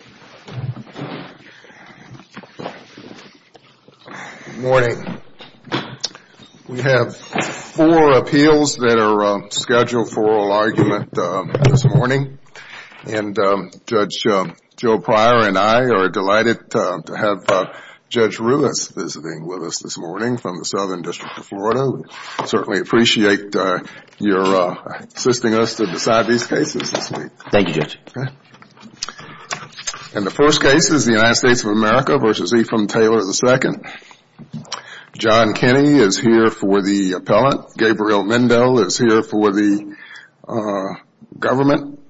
Good morning. We have four appeals that are scheduled for oral argument this morning and Judge Joe Pryor and I are delighted to have Judge Ruiz visiting with us this morning from the Southern District of Florida. We certainly appreciate your assisting us to decide these And the first case is the United States of America v. Ephren Taylor, II. John Kenney is here for the appellant. Gabriel Mendo is here for the government.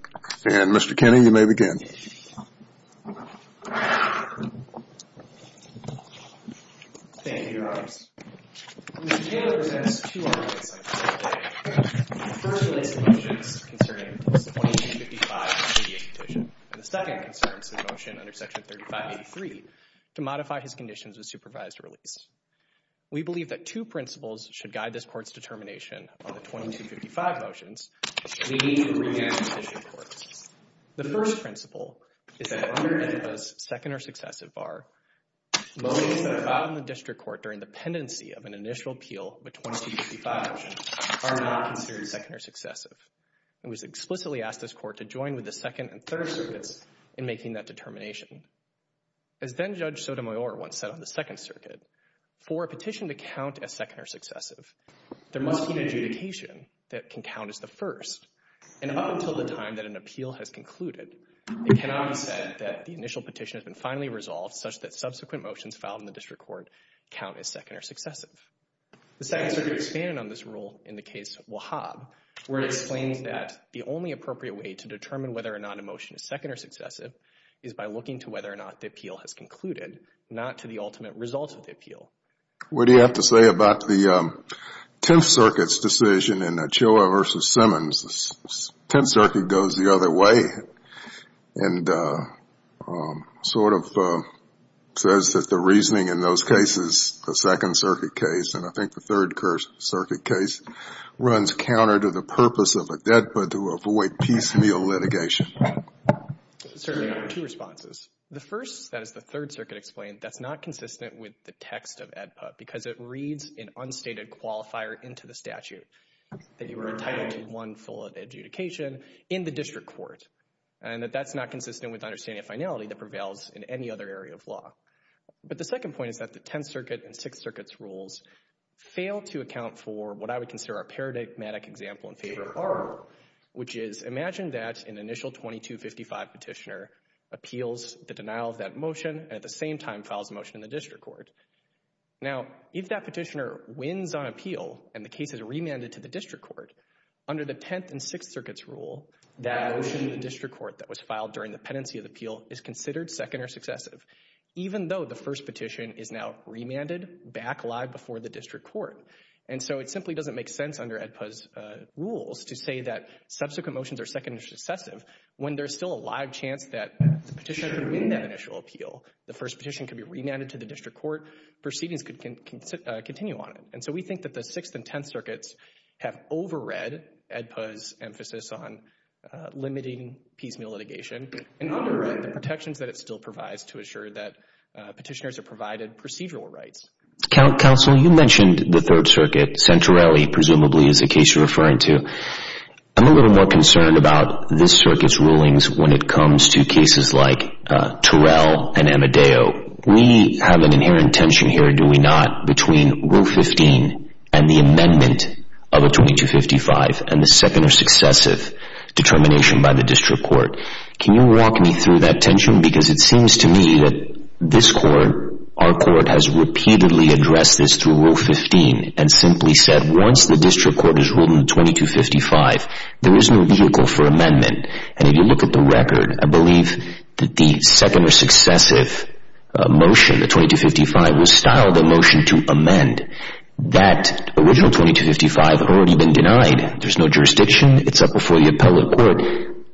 And Mr. Kenney, you 3583 to modify his conditions with supervised release. We believe that two principles should guide this court's determination of the 2255 motions. The first principle is that under ETHIPA's second or successive bar, motions that are filed in the District Court during the pendency of an initial appeal with 2255 motions are not considered second or successive. It was explicitly asked this court to join with the second and third circuits in making that determination. As then Judge Sotomayor once said on the Second Circuit, for a petition to count as second or successive, there must be an adjudication that can count as the first. And up until the time that an appeal has concluded, it cannot be said that the initial petition has been finally resolved such that subsequent motions filed in the District Court count as second or successive. The Second Circuit expanded on this rule in the case Wahab, where it explains that the only appropriate way to determine whether or not a motion is second or successive is by looking to whether or not the appeal has concluded, not to the ultimate result of the appeal. What do you have to say about the Tenth Circuit's decision in Achilla v. Simmons? Tenth Circuit goes the other way and sort of says that the first circuit case runs counter to the purpose of Edput to avoid piecemeal litigation. There are two responses. The first, that is the Third Circuit explained, that's not consistent with the text of Edput because it reads an unstated qualifier into the statute that you were entitled to one full of adjudication in the District Court and that that's not consistent with understanding a finality that prevails in any other area of law. But the second point is that the Tenth Circuit and Sixth Circuit's rules fail to account for what I would consider a paradigmatic example in favor of our rule, which is imagine that an initial 2255 petitioner appeals the denial of that motion and at the same time files a motion in the District Court. Now, if that petitioner wins on appeal and the case is remanded to the District Court, under the Tenth and Sixth Circuit's rule, that motion in the District Court that was filed during the pendency of the appeal is considered second or successive, even though the first petition is now remanded back live before the District Court. And so it simply doesn't make sense under Edput's rules to say that subsequent motions are second or successive when there's still a live chance that the petitioner could win that initial appeal. The first petition could be remanded to the District Court. Proceedings could continue on it. And so we think that the Sixth and Tenth Circuits have overread Edput's emphasis on limiting piecemeal litigation and underwrite the protections that it still provides to assure that petitioners are provided procedural rights. Counsel, you mentioned the Third Circuit, Centrelli, presumably, is the case you're referring to. I'm a little more concerned about this circuit's rulings when it comes to cases like Turrell and Amadeo. We have an inherent tension here, do we not, between Rule 15 and the amendment of a 2255 and the second or successive determination by the District Court. Can you walk me through that tension? Because it seems to me that this Court, our Court, has repeatedly addressed this through Rule 15 and simply said, once the District Court has ruled in 2255, there is no vehicle for amendment. And if you look at the record, I believe that the second or successive motion, the 2255, was styled a motion to amend. That original 2255 had already been denied. There's no jurisdiction. It's up before the appellate court.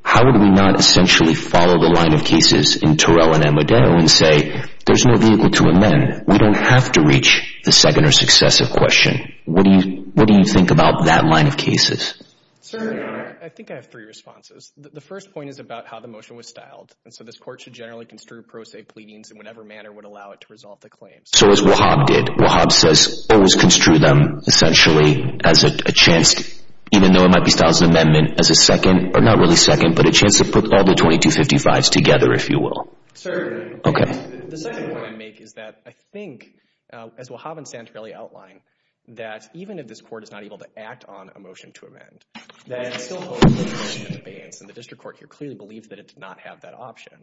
How would we not essentially follow the line of cases in Turrell and Amadeo and say, there's no vehicle to amend. We don't have to reach the second or successive question. What do you think about that line of cases? Sir, I think I have three responses. The first point is about how the motion was styled. And so this Court should generally construe pro se pleadings in whatever manner would allow it to resolve the claim. So as Wahab did, Wahab says, always construe them, essentially, as a chance, even though it might be styled as an amendment, as a second, or not really second, but a chance to put all the 2255s together, if you will. Sir, the second point I make is that I think, as Wahab and Santorelli outlined, that even if this Court is not able to act on a motion to amend, that it is still holding the motion in abeyance. And the District Court here clearly believed that it did not have that option.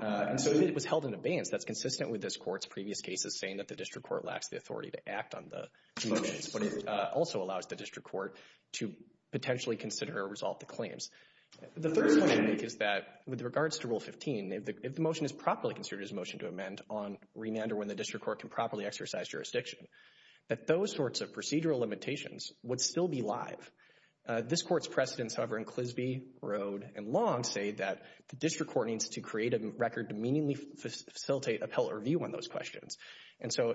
And so if it was held in abeyance, that's consistent with this Court's previous cases saying that the District Court lacks the authority to act on the motions. But it also allows the District Court to potentially consider or resolve the claims. The third point I make is that, with regards to Rule 15, if the motion is properly considered as a motion to amend on remand, or when the District Court can properly exercise jurisdiction, that those sorts of procedural limitations would still be live. This Court's precedents, however, in Clisby, Broad, and Long, say that the District Court needs to create a record to meaningfully facilitate, uphold, or view on those questions. And so,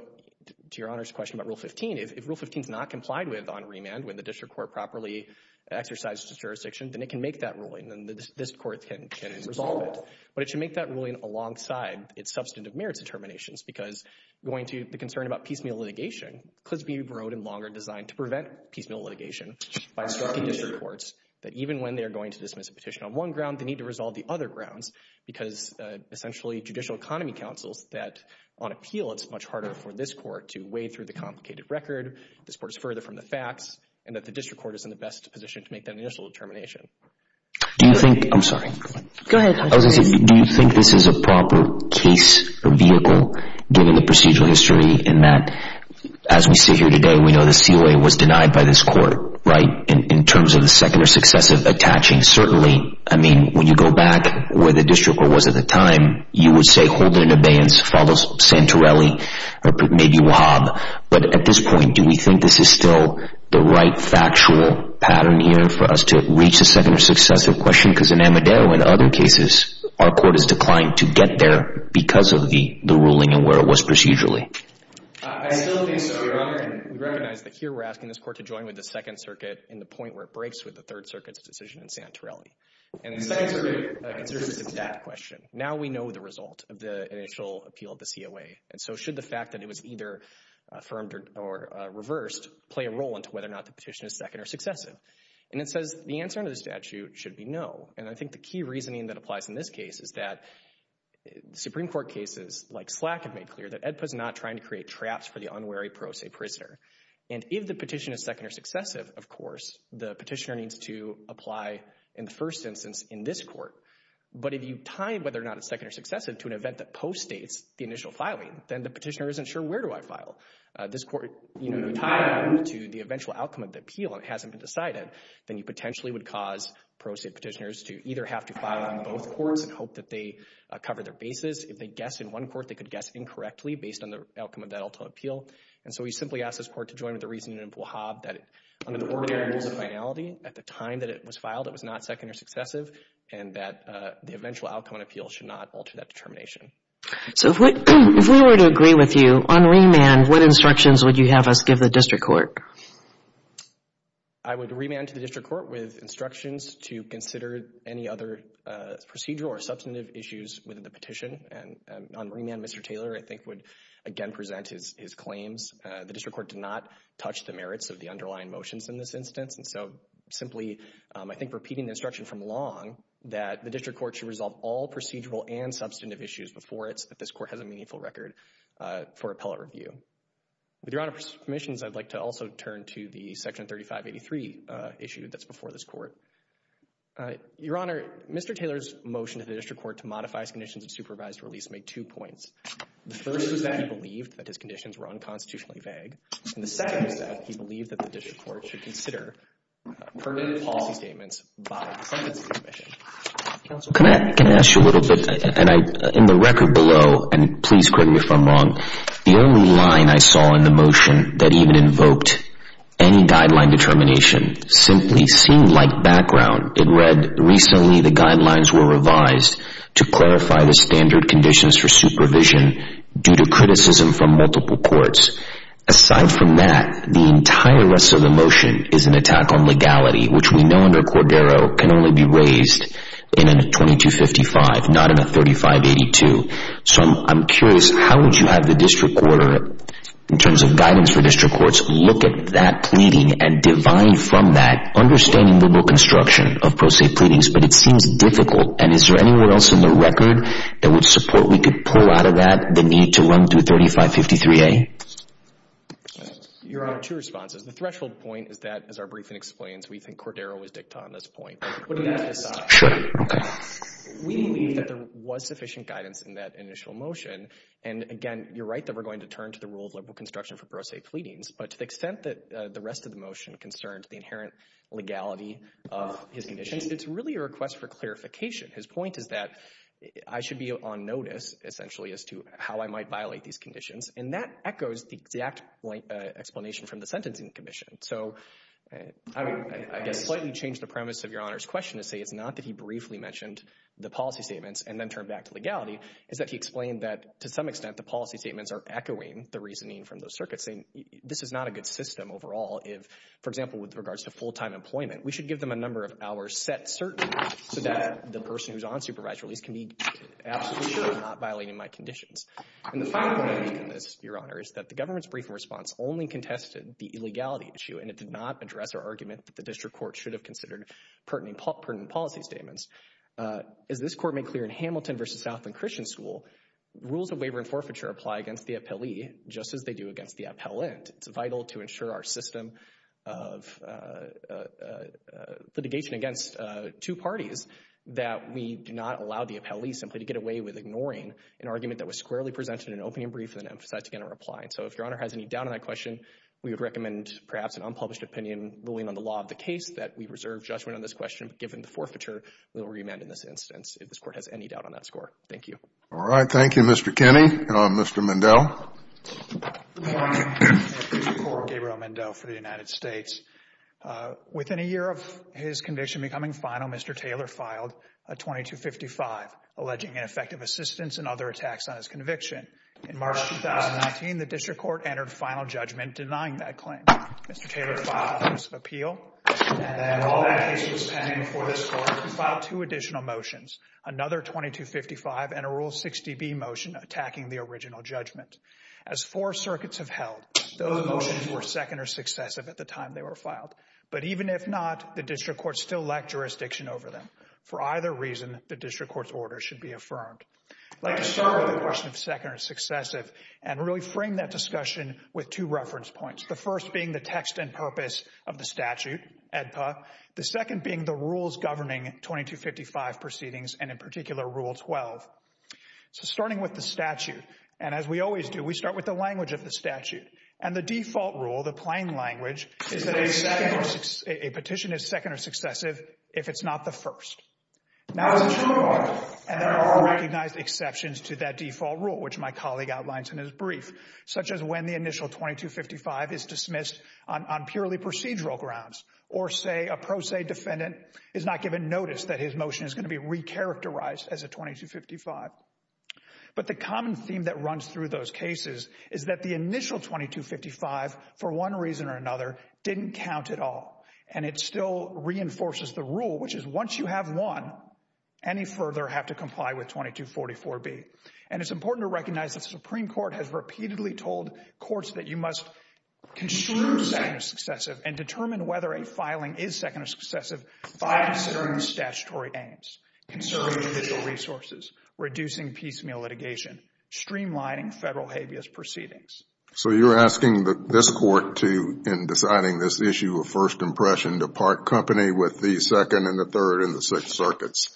to Your Honor's question about Rule 15, if Rule 15 is not complied with on remand, when the District Court properly exercises its jurisdiction, then it can make that ruling, and this Court can resolve it. But it should make that ruling alongside its substantive merits determinations, because going to the concern about piecemeal litigation, Clisby, Broad, and Long are designed to prevent piecemeal litigation by instructing District Courts that, even when they are going to dismiss a petition on one ground, they need to resolve the other grounds, because, essentially, Judicial Economy counsels that, on appeal, it's much harder for this Court to wade through the complicated record, this Court is further from the facts, and that the District Court is in the best position to make that initial determination. Do you think, I'm sorry. Go ahead. I was going to say, do you think this is a proper case or vehicle, given the procedural history, in that, as we sit here today, we know the COA was denied by this Court, right? In terms of the secular success of attaching, certainly, I mean, when you go back where the District Court was at the time, you would say, hold it in abeyance, follow Santorelli, or maybe Wahab, but at this point, do we think this is still the right factual pattern, even, for us to reach a secular success of question? Because in Amadeo and other cases, our Court has declined to get there because of the ruling and where it was procedurally. I still think so, Your Honor, and we recognize that here we're asking this Court to join with the Second Circuit in the point where it breaks with the Third Circuit's decision in Santorelli. And the Second Circuit considers it to be that question. Now we know the result of the initial appeal of the COA, and so should the fact that it was either affirmed or reversed play a role into whether or not the petition is second or successive? And it says the answer under the statute should be no. And I think the key reasoning that applies in this case is that Supreme Court cases like Slack have made clear that AEDPA is not trying to create traps for the unwary pro se prisoner. And if the petition is second or successive, of course, the petitioner needs to apply in the first instance in this Court. But if you tie whether or not it's second or successive to an event that post-states the initial filing, then the petitioner isn't sure, where do I file? This Court, you know, you tie it to the eventual outcome of the appeal and it hasn't been decided, then you potentially would cause pro se petitioners to either have to file on both courts and hope that they cover their bases. If they guess in one court, they could guess incorrectly based on the outcome of that ultimate appeal. And so we simply ask this Court to join with the reasoning in Pujab that under the ordinary rules of finality, at the time that it was filed, it was not second or successive, and that the eventual outcome of an appeal should not alter that determination. So if we were to agree with you on remand, what instructions would you have us give the District Court? I would remand to the District Court with instructions to consider any other procedural or substantive issues within the petition. And on remand, Mr. Taylor, I think, would again present his claims. The District Court did not touch the merits of the underlying motions in this instance. And so simply, I think, repeating the instruction from Long that the District Court should resolve all procedural and substantive issues before it so that this Court has a meaningful record for appellate review. With Your Honor's permissions, I'd like to also turn to the Section 3583 issue that's before this Court. Your Honor, Mr. Taylor's motion to the District Court to modify his conditions of supervised release made two points. The first was that he believed that his conditions were unconstitutionally vague. And the second was that he believed that the District Court should consider permanent policy statements by the Sentencing Commission. Counsel, can I ask you a little bit? In the record below, and please correct me if I'm wrong, the only line I saw in the motion that even invoked any guideline determination simply seemed like background. It read, recently the guidelines were revised to clarify the standard conditions for supervision due to criticism from multiple courts. Aside from that, the entire rest of the motion is an attack on legality, which we know under Cordero can only be raised in a 2255, not in a 3582. So I'm curious, how would you have the District Court, in terms of guidance for District Courts, look at that pleading and divine from that understanding liberal construction of pro se pleadings? But it seems difficult. And is there anywhere else in the record that would support we could pull out of that the need to run to 3553A? You're on two responses. The threshold point is that, as our briefing explains, we think Cordero was dicta on this point. Sure. We believe that there was sufficient guidance in that initial motion. And again, you're right that we're going to turn to the rule of liberal construction for pro se pleadings. But to the extent that the rest of the motion concerned the inherent legality of his conditions, it's really a request for clarification. His point is that I should be on notice, essentially, as to how I might violate these conditions. And that echoes the exact explanation from the Sentencing Commission. So I guess slightly change the premise of Your Honor's question to say it's not that he briefly mentioned the policy statements and then turned back to legality. It's that he explained that to some extent the policy statements are echoing the reasoning from those circuits, saying this is not a good system overall if, for example, with regards to full-time employment, we should give them a number of hours set certainly so that the person who's on supervised release can be absolutely sure they're not violating my conditions. And the final point I make on this, Your Honor, is that the government's briefing response only contested the illegality issue, and it did not address our argument that the district court should have considered pertinent policy statements. As this Court made clear in Hamilton v. Southland Christian School, rules of waiver and forfeiture apply against the appellee just as they do against the appellant. It's vital to ensure our system of litigation against two parties that we do not allow the appellee simply to get away with ignoring an argument that was squarely presented in an opening brief and then emphasized again in a reply. And so if Your Honor has any doubt on that question, we would recommend perhaps an unpublished opinion, ruling on the law of the case, that we reserve judgment on this question. But given the forfeiture, we will remand in this instance if this Court has any doubt on that score. Thank you. All right. Thank you, Mr. Kinney. Mr. Mendel. Good morning. District Court, Gabriel Mendel for the United States. Within a year of his conviction becoming final, Mr. Taylor filed a 2255, alleging ineffective assistance and other attacks on his conviction. In March 2019, the district court entered final judgment denying that claim. Mr. Taylor filed an offensive appeal. And then while that case was pending before this Court, he filed two additional motions, another 2255 and a Rule 60B motion attacking the original judgment. As four circuits have held, those motions were second or successive at the time they were filed. But even if not, the district court still lacked jurisdiction over them. For either reason, the district court's order should be affirmed. I'd like to start with the question of second or successive and really frame that discussion with two reference points. The second being the rules governing 2255 proceedings and, in particular, Rule 12. So starting with the statute. And as we always do, we start with the language of the statute. And the default rule, the plain language, is that a petition is second or successive if it's not the first. And there are recognized exceptions to that default rule, which my colleague outlines in his brief, such as when the initial 2255 is dismissed on purely procedural grounds. Or, say, a pro se defendant is not given notice that his motion is going to be recharacterized as a 2255. But the common theme that runs through those cases is that the initial 2255, for one reason or another, didn't count at all. And it still reinforces the rule, which is once you have one, any further have to comply with 2244B. And it's important to recognize that the Supreme Court has repeatedly told courts that you must construe second or successive and determine whether a filing is second or successive by considering the statutory aims, conserving judicial resources, reducing piecemeal litigation, streamlining federal habeas proceedings. So you're asking this court to, in deciding this issue of first impression, to part company with the Second and the Third and the Sixth Circuits?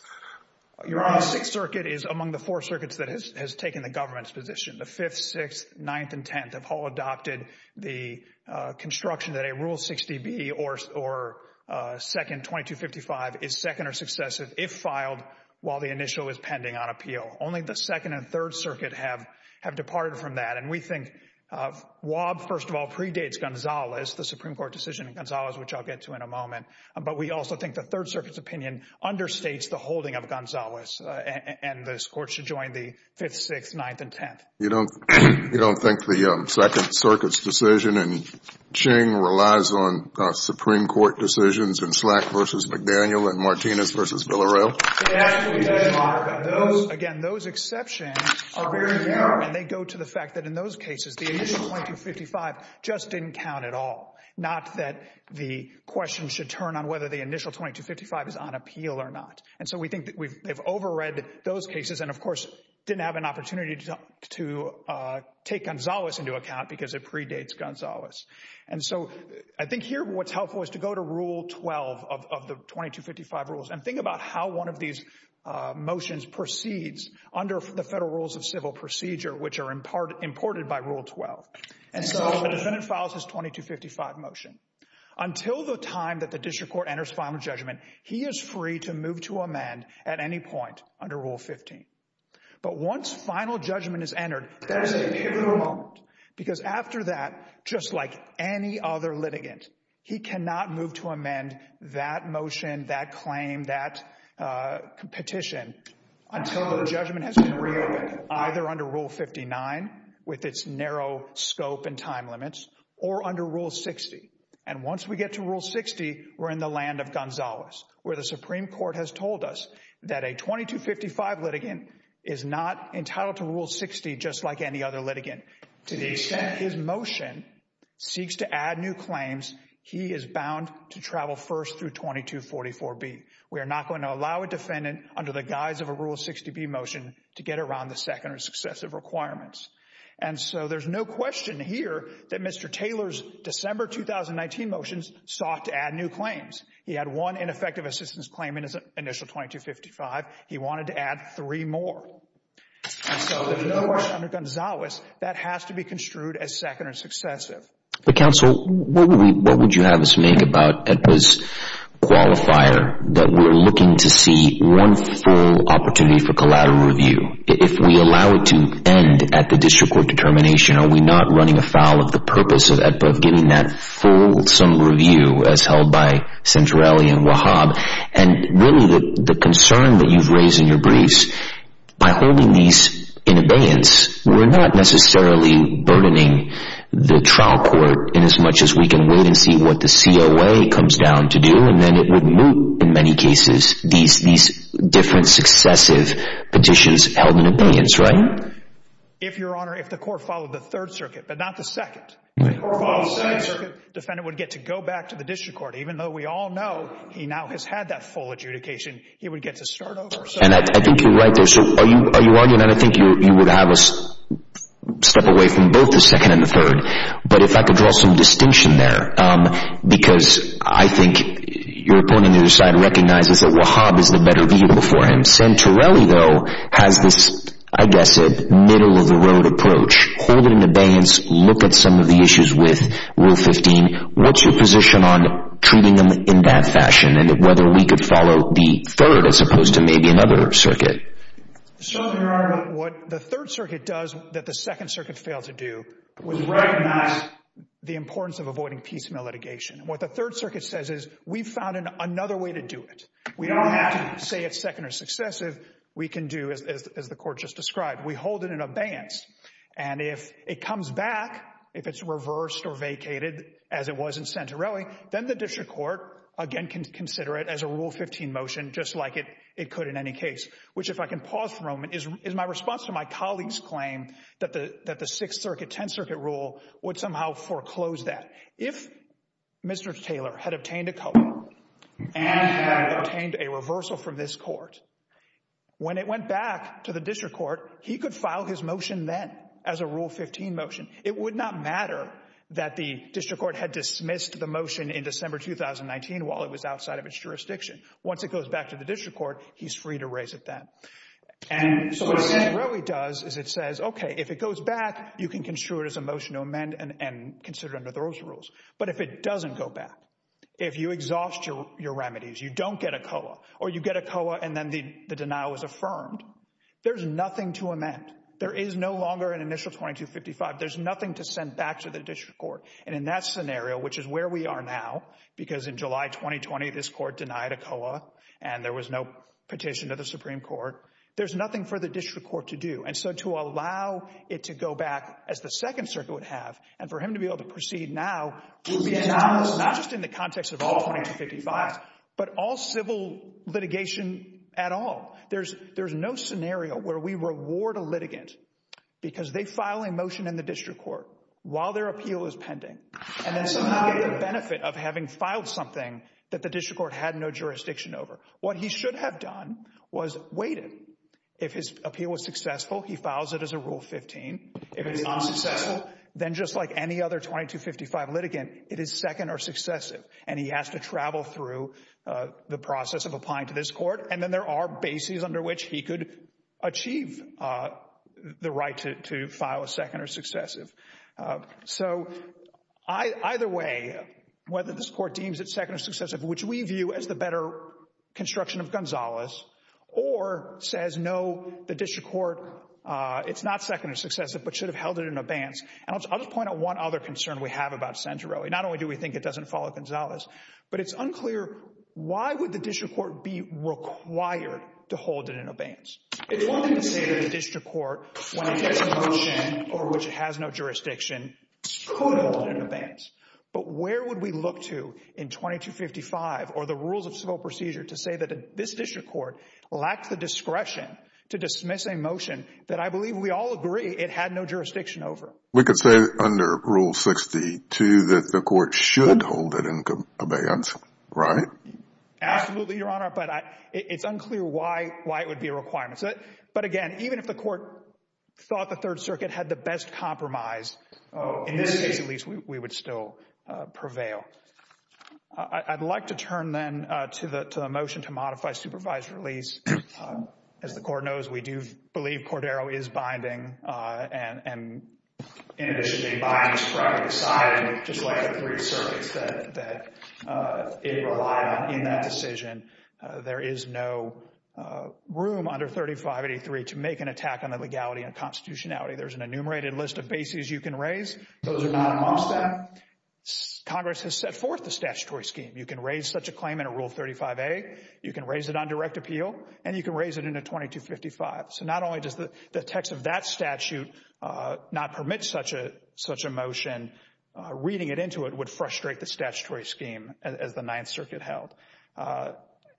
Your Sixth Circuit is among the four circuits that has taken the government's position. The Fifth, Sixth, Ninth, and Tenth have all adopted the construction that a Rule 60B or second 2255 is second or successive if filed while the initial is pending on appeal. Only the Second and Third Circuit have departed from that. And we think WAB, first of all, predates Gonzales, the Supreme Court decision in Gonzales, which I'll get to in a moment. But we also think the Third Circuit's opinion understates the holding of Gonzales. And this court should join the Fifth, Sixth, Ninth, and Tenth. You don't think the Second Circuit's decision in Ching relies on Supreme Court decisions in Slack v. McDaniel and Martinez v. Villareal? Again, those exceptions are very narrow. And they go to the fact that in those cases, the initial 2255 just didn't count at all. Not that the question should turn on whether the initial 2255 is on appeal or not. And so we think that they've overread those cases and, of course, didn't have an opportunity to take Gonzales into account because it predates Gonzales. And so I think here what's helpful is to go to Rule 12 of the 2255 rules and think about how one of these motions proceeds under the Federal Rules of Civil Procedure, which are imported by Rule 12. And so the defendant files his 2255 motion. Until the time that the district court enters final judgment, he is free to move to amend at any point under Rule 15. But once final judgment is entered, that is a pivotal moment because after that, just like any other litigant, he cannot move to amend that motion, that claim, that petition until the judgment has been reopened, either under Rule 59 with its narrow scope and time limits or under Rule 60. And once we get to Rule 60, we're in the land of Gonzales, where the Supreme Court has told us that a 2255 litigant is not entitled to Rule 60, just like any other litigant. To the extent his motion seeks to add new claims, he is bound to travel first through 2244B. We are not going to allow a defendant under the guise of a Rule 60B motion to get around the second or successive requirements. And so there's no question here that Mr. Taylor's December 2019 motions sought to add new claims. He had one ineffective assistance claim in his initial 2255. He wanted to add three more. And so there's no motion under Gonzales that has to be construed as second or successive. But, counsel, what would you have us make about AEDPA's qualifier that we're looking to see one full opportunity for collateral review? If we allow it to end at the district court determination, are we not running afoul of the purpose of AEDPA of getting that full sum review as held by Centrale and Wahab? And really, the concern that you've raised in your briefs, by holding these in abeyance, we're not necessarily burdening the trial court in as much as we can wait and see what the COA comes down to do. And then it would move, in many cases, these different successive petitions held in abeyance, right? If, Your Honor, if the court followed the third circuit, but not the second. If the court followed the second circuit, the defendant would get to go back to the district court. Even though we all know he now has had that full adjudication, he would get to start over. And I think you're right there. So are you arguing that I think you would have us step away from both the second and the third? But if I could draw some distinction there, because I think your opponent on the other side recognizes that Wahab is the better vehicle for him. Centrale, though, has this, I guess, middle-of-the-road approach. Hold it in abeyance. Look at some of the issues with Rule 15. What's your position on treating them in that fashion and whether we could follow the third as opposed to maybe another circuit? So, Your Honor, what the third circuit does that the second circuit failed to do was recognize the importance of avoiding piecemeal litigation. What the third circuit says is we've found another way to do it. We don't have to say it's second or successive. We can do, as the court just described, we hold it in abeyance. And if it comes back, if it's reversed or vacated as it was in Centrale, then the district court, again, can consider it as a Rule 15 motion just like it could in any case. Which, if I can pause for a moment, is my response to my colleague's claim that the Sixth Circuit, Tenth Circuit rule would somehow foreclose that. If Mr. Taylor had obtained a color and had obtained a reversal from this court, when it went back to the district court, he could file his motion then as a Rule 15 motion. It would not matter that the district court had dismissed the motion in December 2019 while it was outside of its jurisdiction. Once it goes back to the district court, he's free to raise it then. And so what Centrale does is it says, okay, if it goes back, you can construe it as a motion to amend and consider it under those rules. But if it doesn't go back, if you exhaust your remedies, you don't get a COA, or you get a COA and then the denial is affirmed, there's nothing to amend. There is no longer an initial 2255. There's nothing to send back to the district court. And in that scenario, which is where we are now, because in July 2020, this court denied a COA and there was no petition to the Supreme Court. There's nothing for the district court to do. And so to allow it to go back as the Second Circuit would have and for him to be able to proceed now would be anomalous, not just in the context of all 2255s, but all civil litigation at all. There's no scenario where we reward a litigant because they file a motion in the district court while their appeal is pending. And then somehow get the benefit of having filed something that the district court had no jurisdiction over. What he should have done was waited. If his appeal was successful, he files it as a Rule 15. If it's unsuccessful, then just like any other 2255 litigant, it is second or successive. And he has to travel through the process of applying to this court. And then there are bases under which he could achieve the right to file a second or successive. So either way, whether this court deems it second or successive, which we view as the better construction of Gonzalez, or says, no, the district court, it's not second or successive, but should have held it in advance. And I'll just point out one other concern we have about Centro. Not only do we think it doesn't follow Gonzalez, but it's unclear why would the district court be required to hold it in advance? It's one thing to say that the district court, when it gets a motion over which it has no jurisdiction, could hold it in advance. But where would we look to in 2255 or the Rules of Civil Procedure to say that this district court lacked the discretion to dismiss a motion that I believe we all agree it had no jurisdiction over? We could say under Rule 62 that the court should hold it in advance, right? Absolutely, Your Honor. But it's unclear why it would be a requirement. But again, even if the court thought the Third Circuit had the best compromise, in this case at least, we would still prevail. I'd like to turn then to the motion to modify supervised release. As the court knows, we do believe Cordero is binding. And in addition to being bindings from the side, just like the three circuits that it relied on in that decision, there is no room under 3583 to make an attack on the legality and constitutionality. There's an enumerated list of bases you can raise. Those are not amongst them. Congress has set forth the statutory scheme. You can raise such a claim in a Rule 35A. You can raise it on direct appeal. And you can raise it in a 2255. So not only does the text of that statute not permit such a motion, reading it into it would frustrate the statutory scheme as the Ninth Circuit held.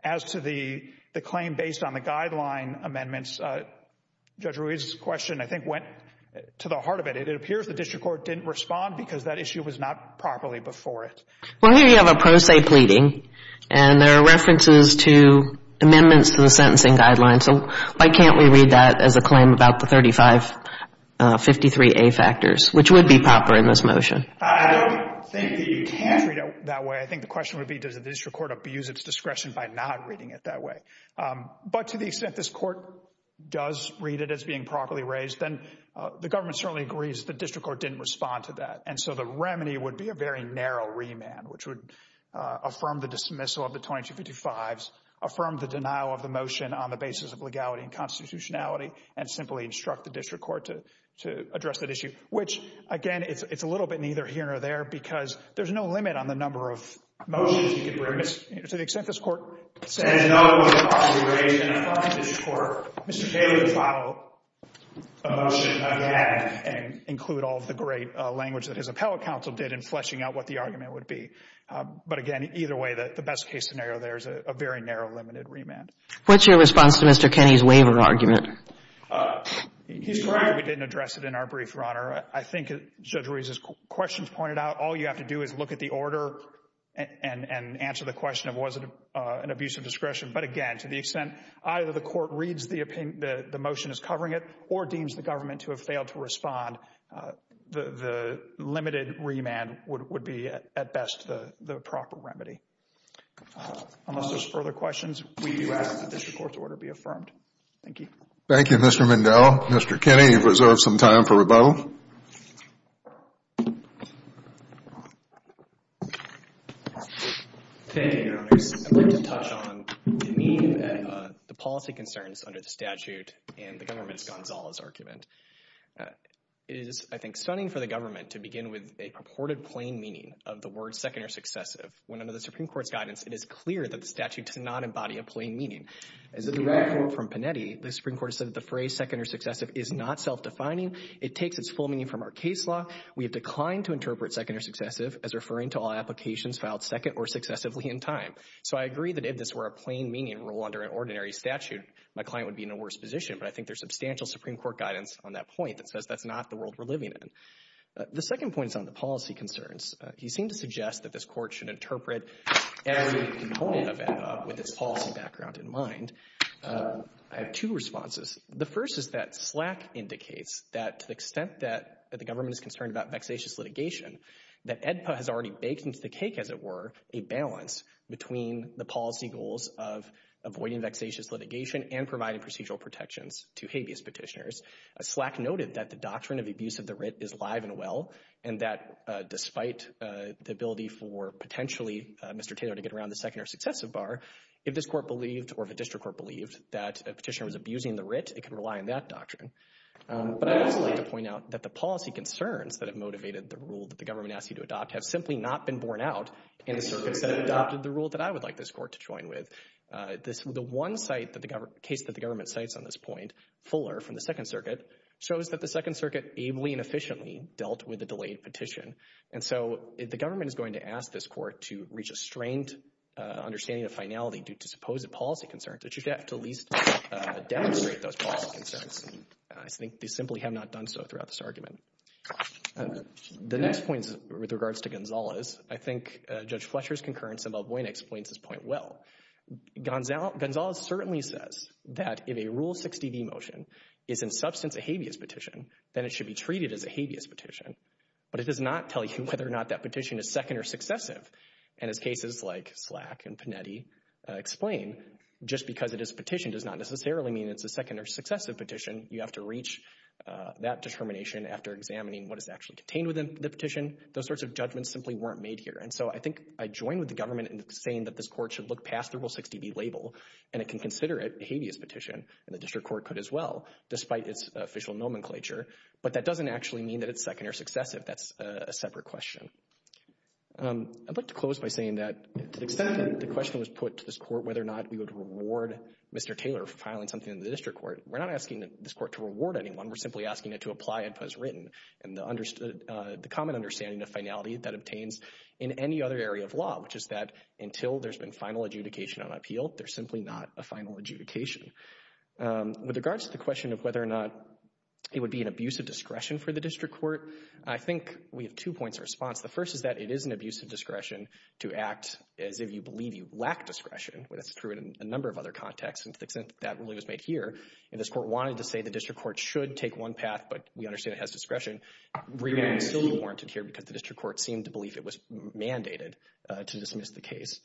As to the claim based on the guideline amendments, Judge Ruiz's question I think went to the heart of it. It appears the district court didn't respond because that issue was not properly before it. Well, here you have a pro se pleading. And there are references to amendments to the sentencing guidelines. So why can't we read that as a claim about the 3553A factors, which would be proper in this motion? I don't think that you can read it that way. I think the question would be does the district court abuse its discretion by not reading it that way. But to the extent this court does read it as being properly raised, then the government certainly agrees the district court didn't respond to that. And so the remedy would be a very narrow remand, which would affirm the dismissal of the 2255s, affirm the denial of the motion on the basis of legality and constitutionality, and simply instruct the district court to address that issue. Which, again, it's a little bit neither here nor there because there's no limit on the number of motions you can bring. But to the extent this court says no, it was properly raised in a fine district court, Mr. Kenney would follow a motion again and include all of the great language that his appellate counsel did in fleshing out what the argument would be. But again, either way, the best case scenario there is a very narrow, limited remand. What's your response to Mr. Kenney's waiver argument? He's correct we didn't address it in our brief, Your Honor. I think Judge Ruiz's questions pointed out all you have to do is look at the order and answer the question of was it an abuse of discretion. But again, to the extent either the court reads the motion as covering it or deems the government to have failed to respond, the limited remand would be, at best, the proper remedy. Unless there's further questions, we ask that the district court's order be affirmed. Thank you. Thank you, Mr. Mindell. Mr. Kenney, you've reserved some time for rebuttal. Thank you, Your Honor. I'd like to touch on the meaning of the policy concerns under the statute and the government's Gonzalez argument. It is, I think, stunning for the government to begin with a purported plain meaning of the word second or successive when under the Supreme Court's guidance it is clear that the statute does not embody a plain meaning. As a direct quote from Panetti, the Supreme Court has said that the phrase second or successive is not self-defining. It takes its full meaning from our case law. We have declined to interpret second or successive as referring to all applications filed second or successively in time. So I agree that if this were a plain meaning rule under an ordinary statute, my client would be in a worse position. But I think there's substantial Supreme Court guidance on that point that says that's not the world we're living in. The second point is on the policy concerns. He seemed to suggest that this court should interpret every component of AEDPA with its policy background in mind. I have two responses. The first is that SLAC indicates that to the extent that the government is concerned about vexatious litigation, that AEDPA has already baked into the cake, as it were, a balance between the policy goals of avoiding vexatious litigation and providing procedural protections to habeas petitioners. SLAC noted that the doctrine of abuse of the writ is live and well, and that despite the ability for potentially Mr. Taylor to get around the second or successive bar, if this court believed or if a district court believed that a petitioner was abusing the writ, it can rely on that doctrine. But I would also like to point out that the policy concerns that have motivated the rule that the government asked you to adopt have simply not been borne out in a circuit that adopted the rule that I would like this court to join with. The one case that the government cites on this point, Fuller from the Second Circuit, shows that the Second Circuit ably and efficiently dealt with the delayed petition. And so if the government is going to ask this court to reach a strained understanding of finality due to supposed policy concerns, it should have to at least demonstrate those policy concerns. I think they simply have not done so throughout this argument. The next point with regards to Gonzales, I think Judge Fletcher's concurrence in Balboina explains this point well. Gonzales certainly says that if a Rule 60b motion is in substance a habeas petition, then it should be treated as a habeas petition. But it does not tell you whether or not that petition is second or successive. And as cases like Slack and Panetti explain, just because it is a petition does not necessarily mean it's a second or successive petition. You have to reach that determination after examining what is actually contained within the petition. Those sorts of judgments simply weren't made here. And so I think I join with the government in saying that this court should look past the Rule 60b label, and it can consider it a habeas petition, and the district court could as well, despite its official nomenclature. But that doesn't actually mean that it's second or successive. That's a separate question. I'd like to close by saying that to the extent that the question was put to this court whether or not we would reward Mr. Taylor for filing something into the district court, we're not asking this court to reward anyone. We're simply asking it to apply it as written. And the common understanding of finality that obtains in any other area of law, which is that until there's been final adjudication on appeal, there's simply not a final adjudication. With regards to the question of whether or not it would be an abuse of discretion for the district court, I think we have two points of response. The first is that it is an abuse of discretion to act as if you believe you lack discretion. That's true in a number of other contexts. And to the extent that really was made here, and this court wanted to say the district court should take one path, but we understand it has discretion, remand is still warranted here because the district court seemed to believe it was mandated to dismiss the case.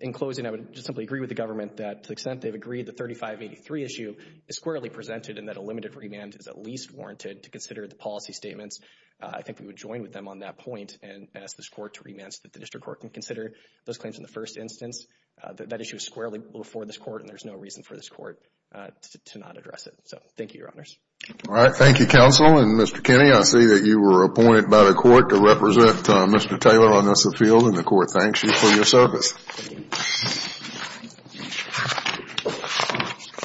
In closing, I would just simply agree with the government that to the extent they've agreed the 3583 issue is squarely presented and that a limited remand is at least warranted to consider the policy statements, I think we would join with them on that point and ask this court to remand so that the district court can consider those claims in the first instance. That issue is squarely before this court, and there's no reason for this court to not address it. So thank you, Your Honors. All right. Thank you, counsel. And Mr. Kinney, I see that you were appointed by the court to represent Mr. Taylor on this field, and the court thanks you for your service. Thank you.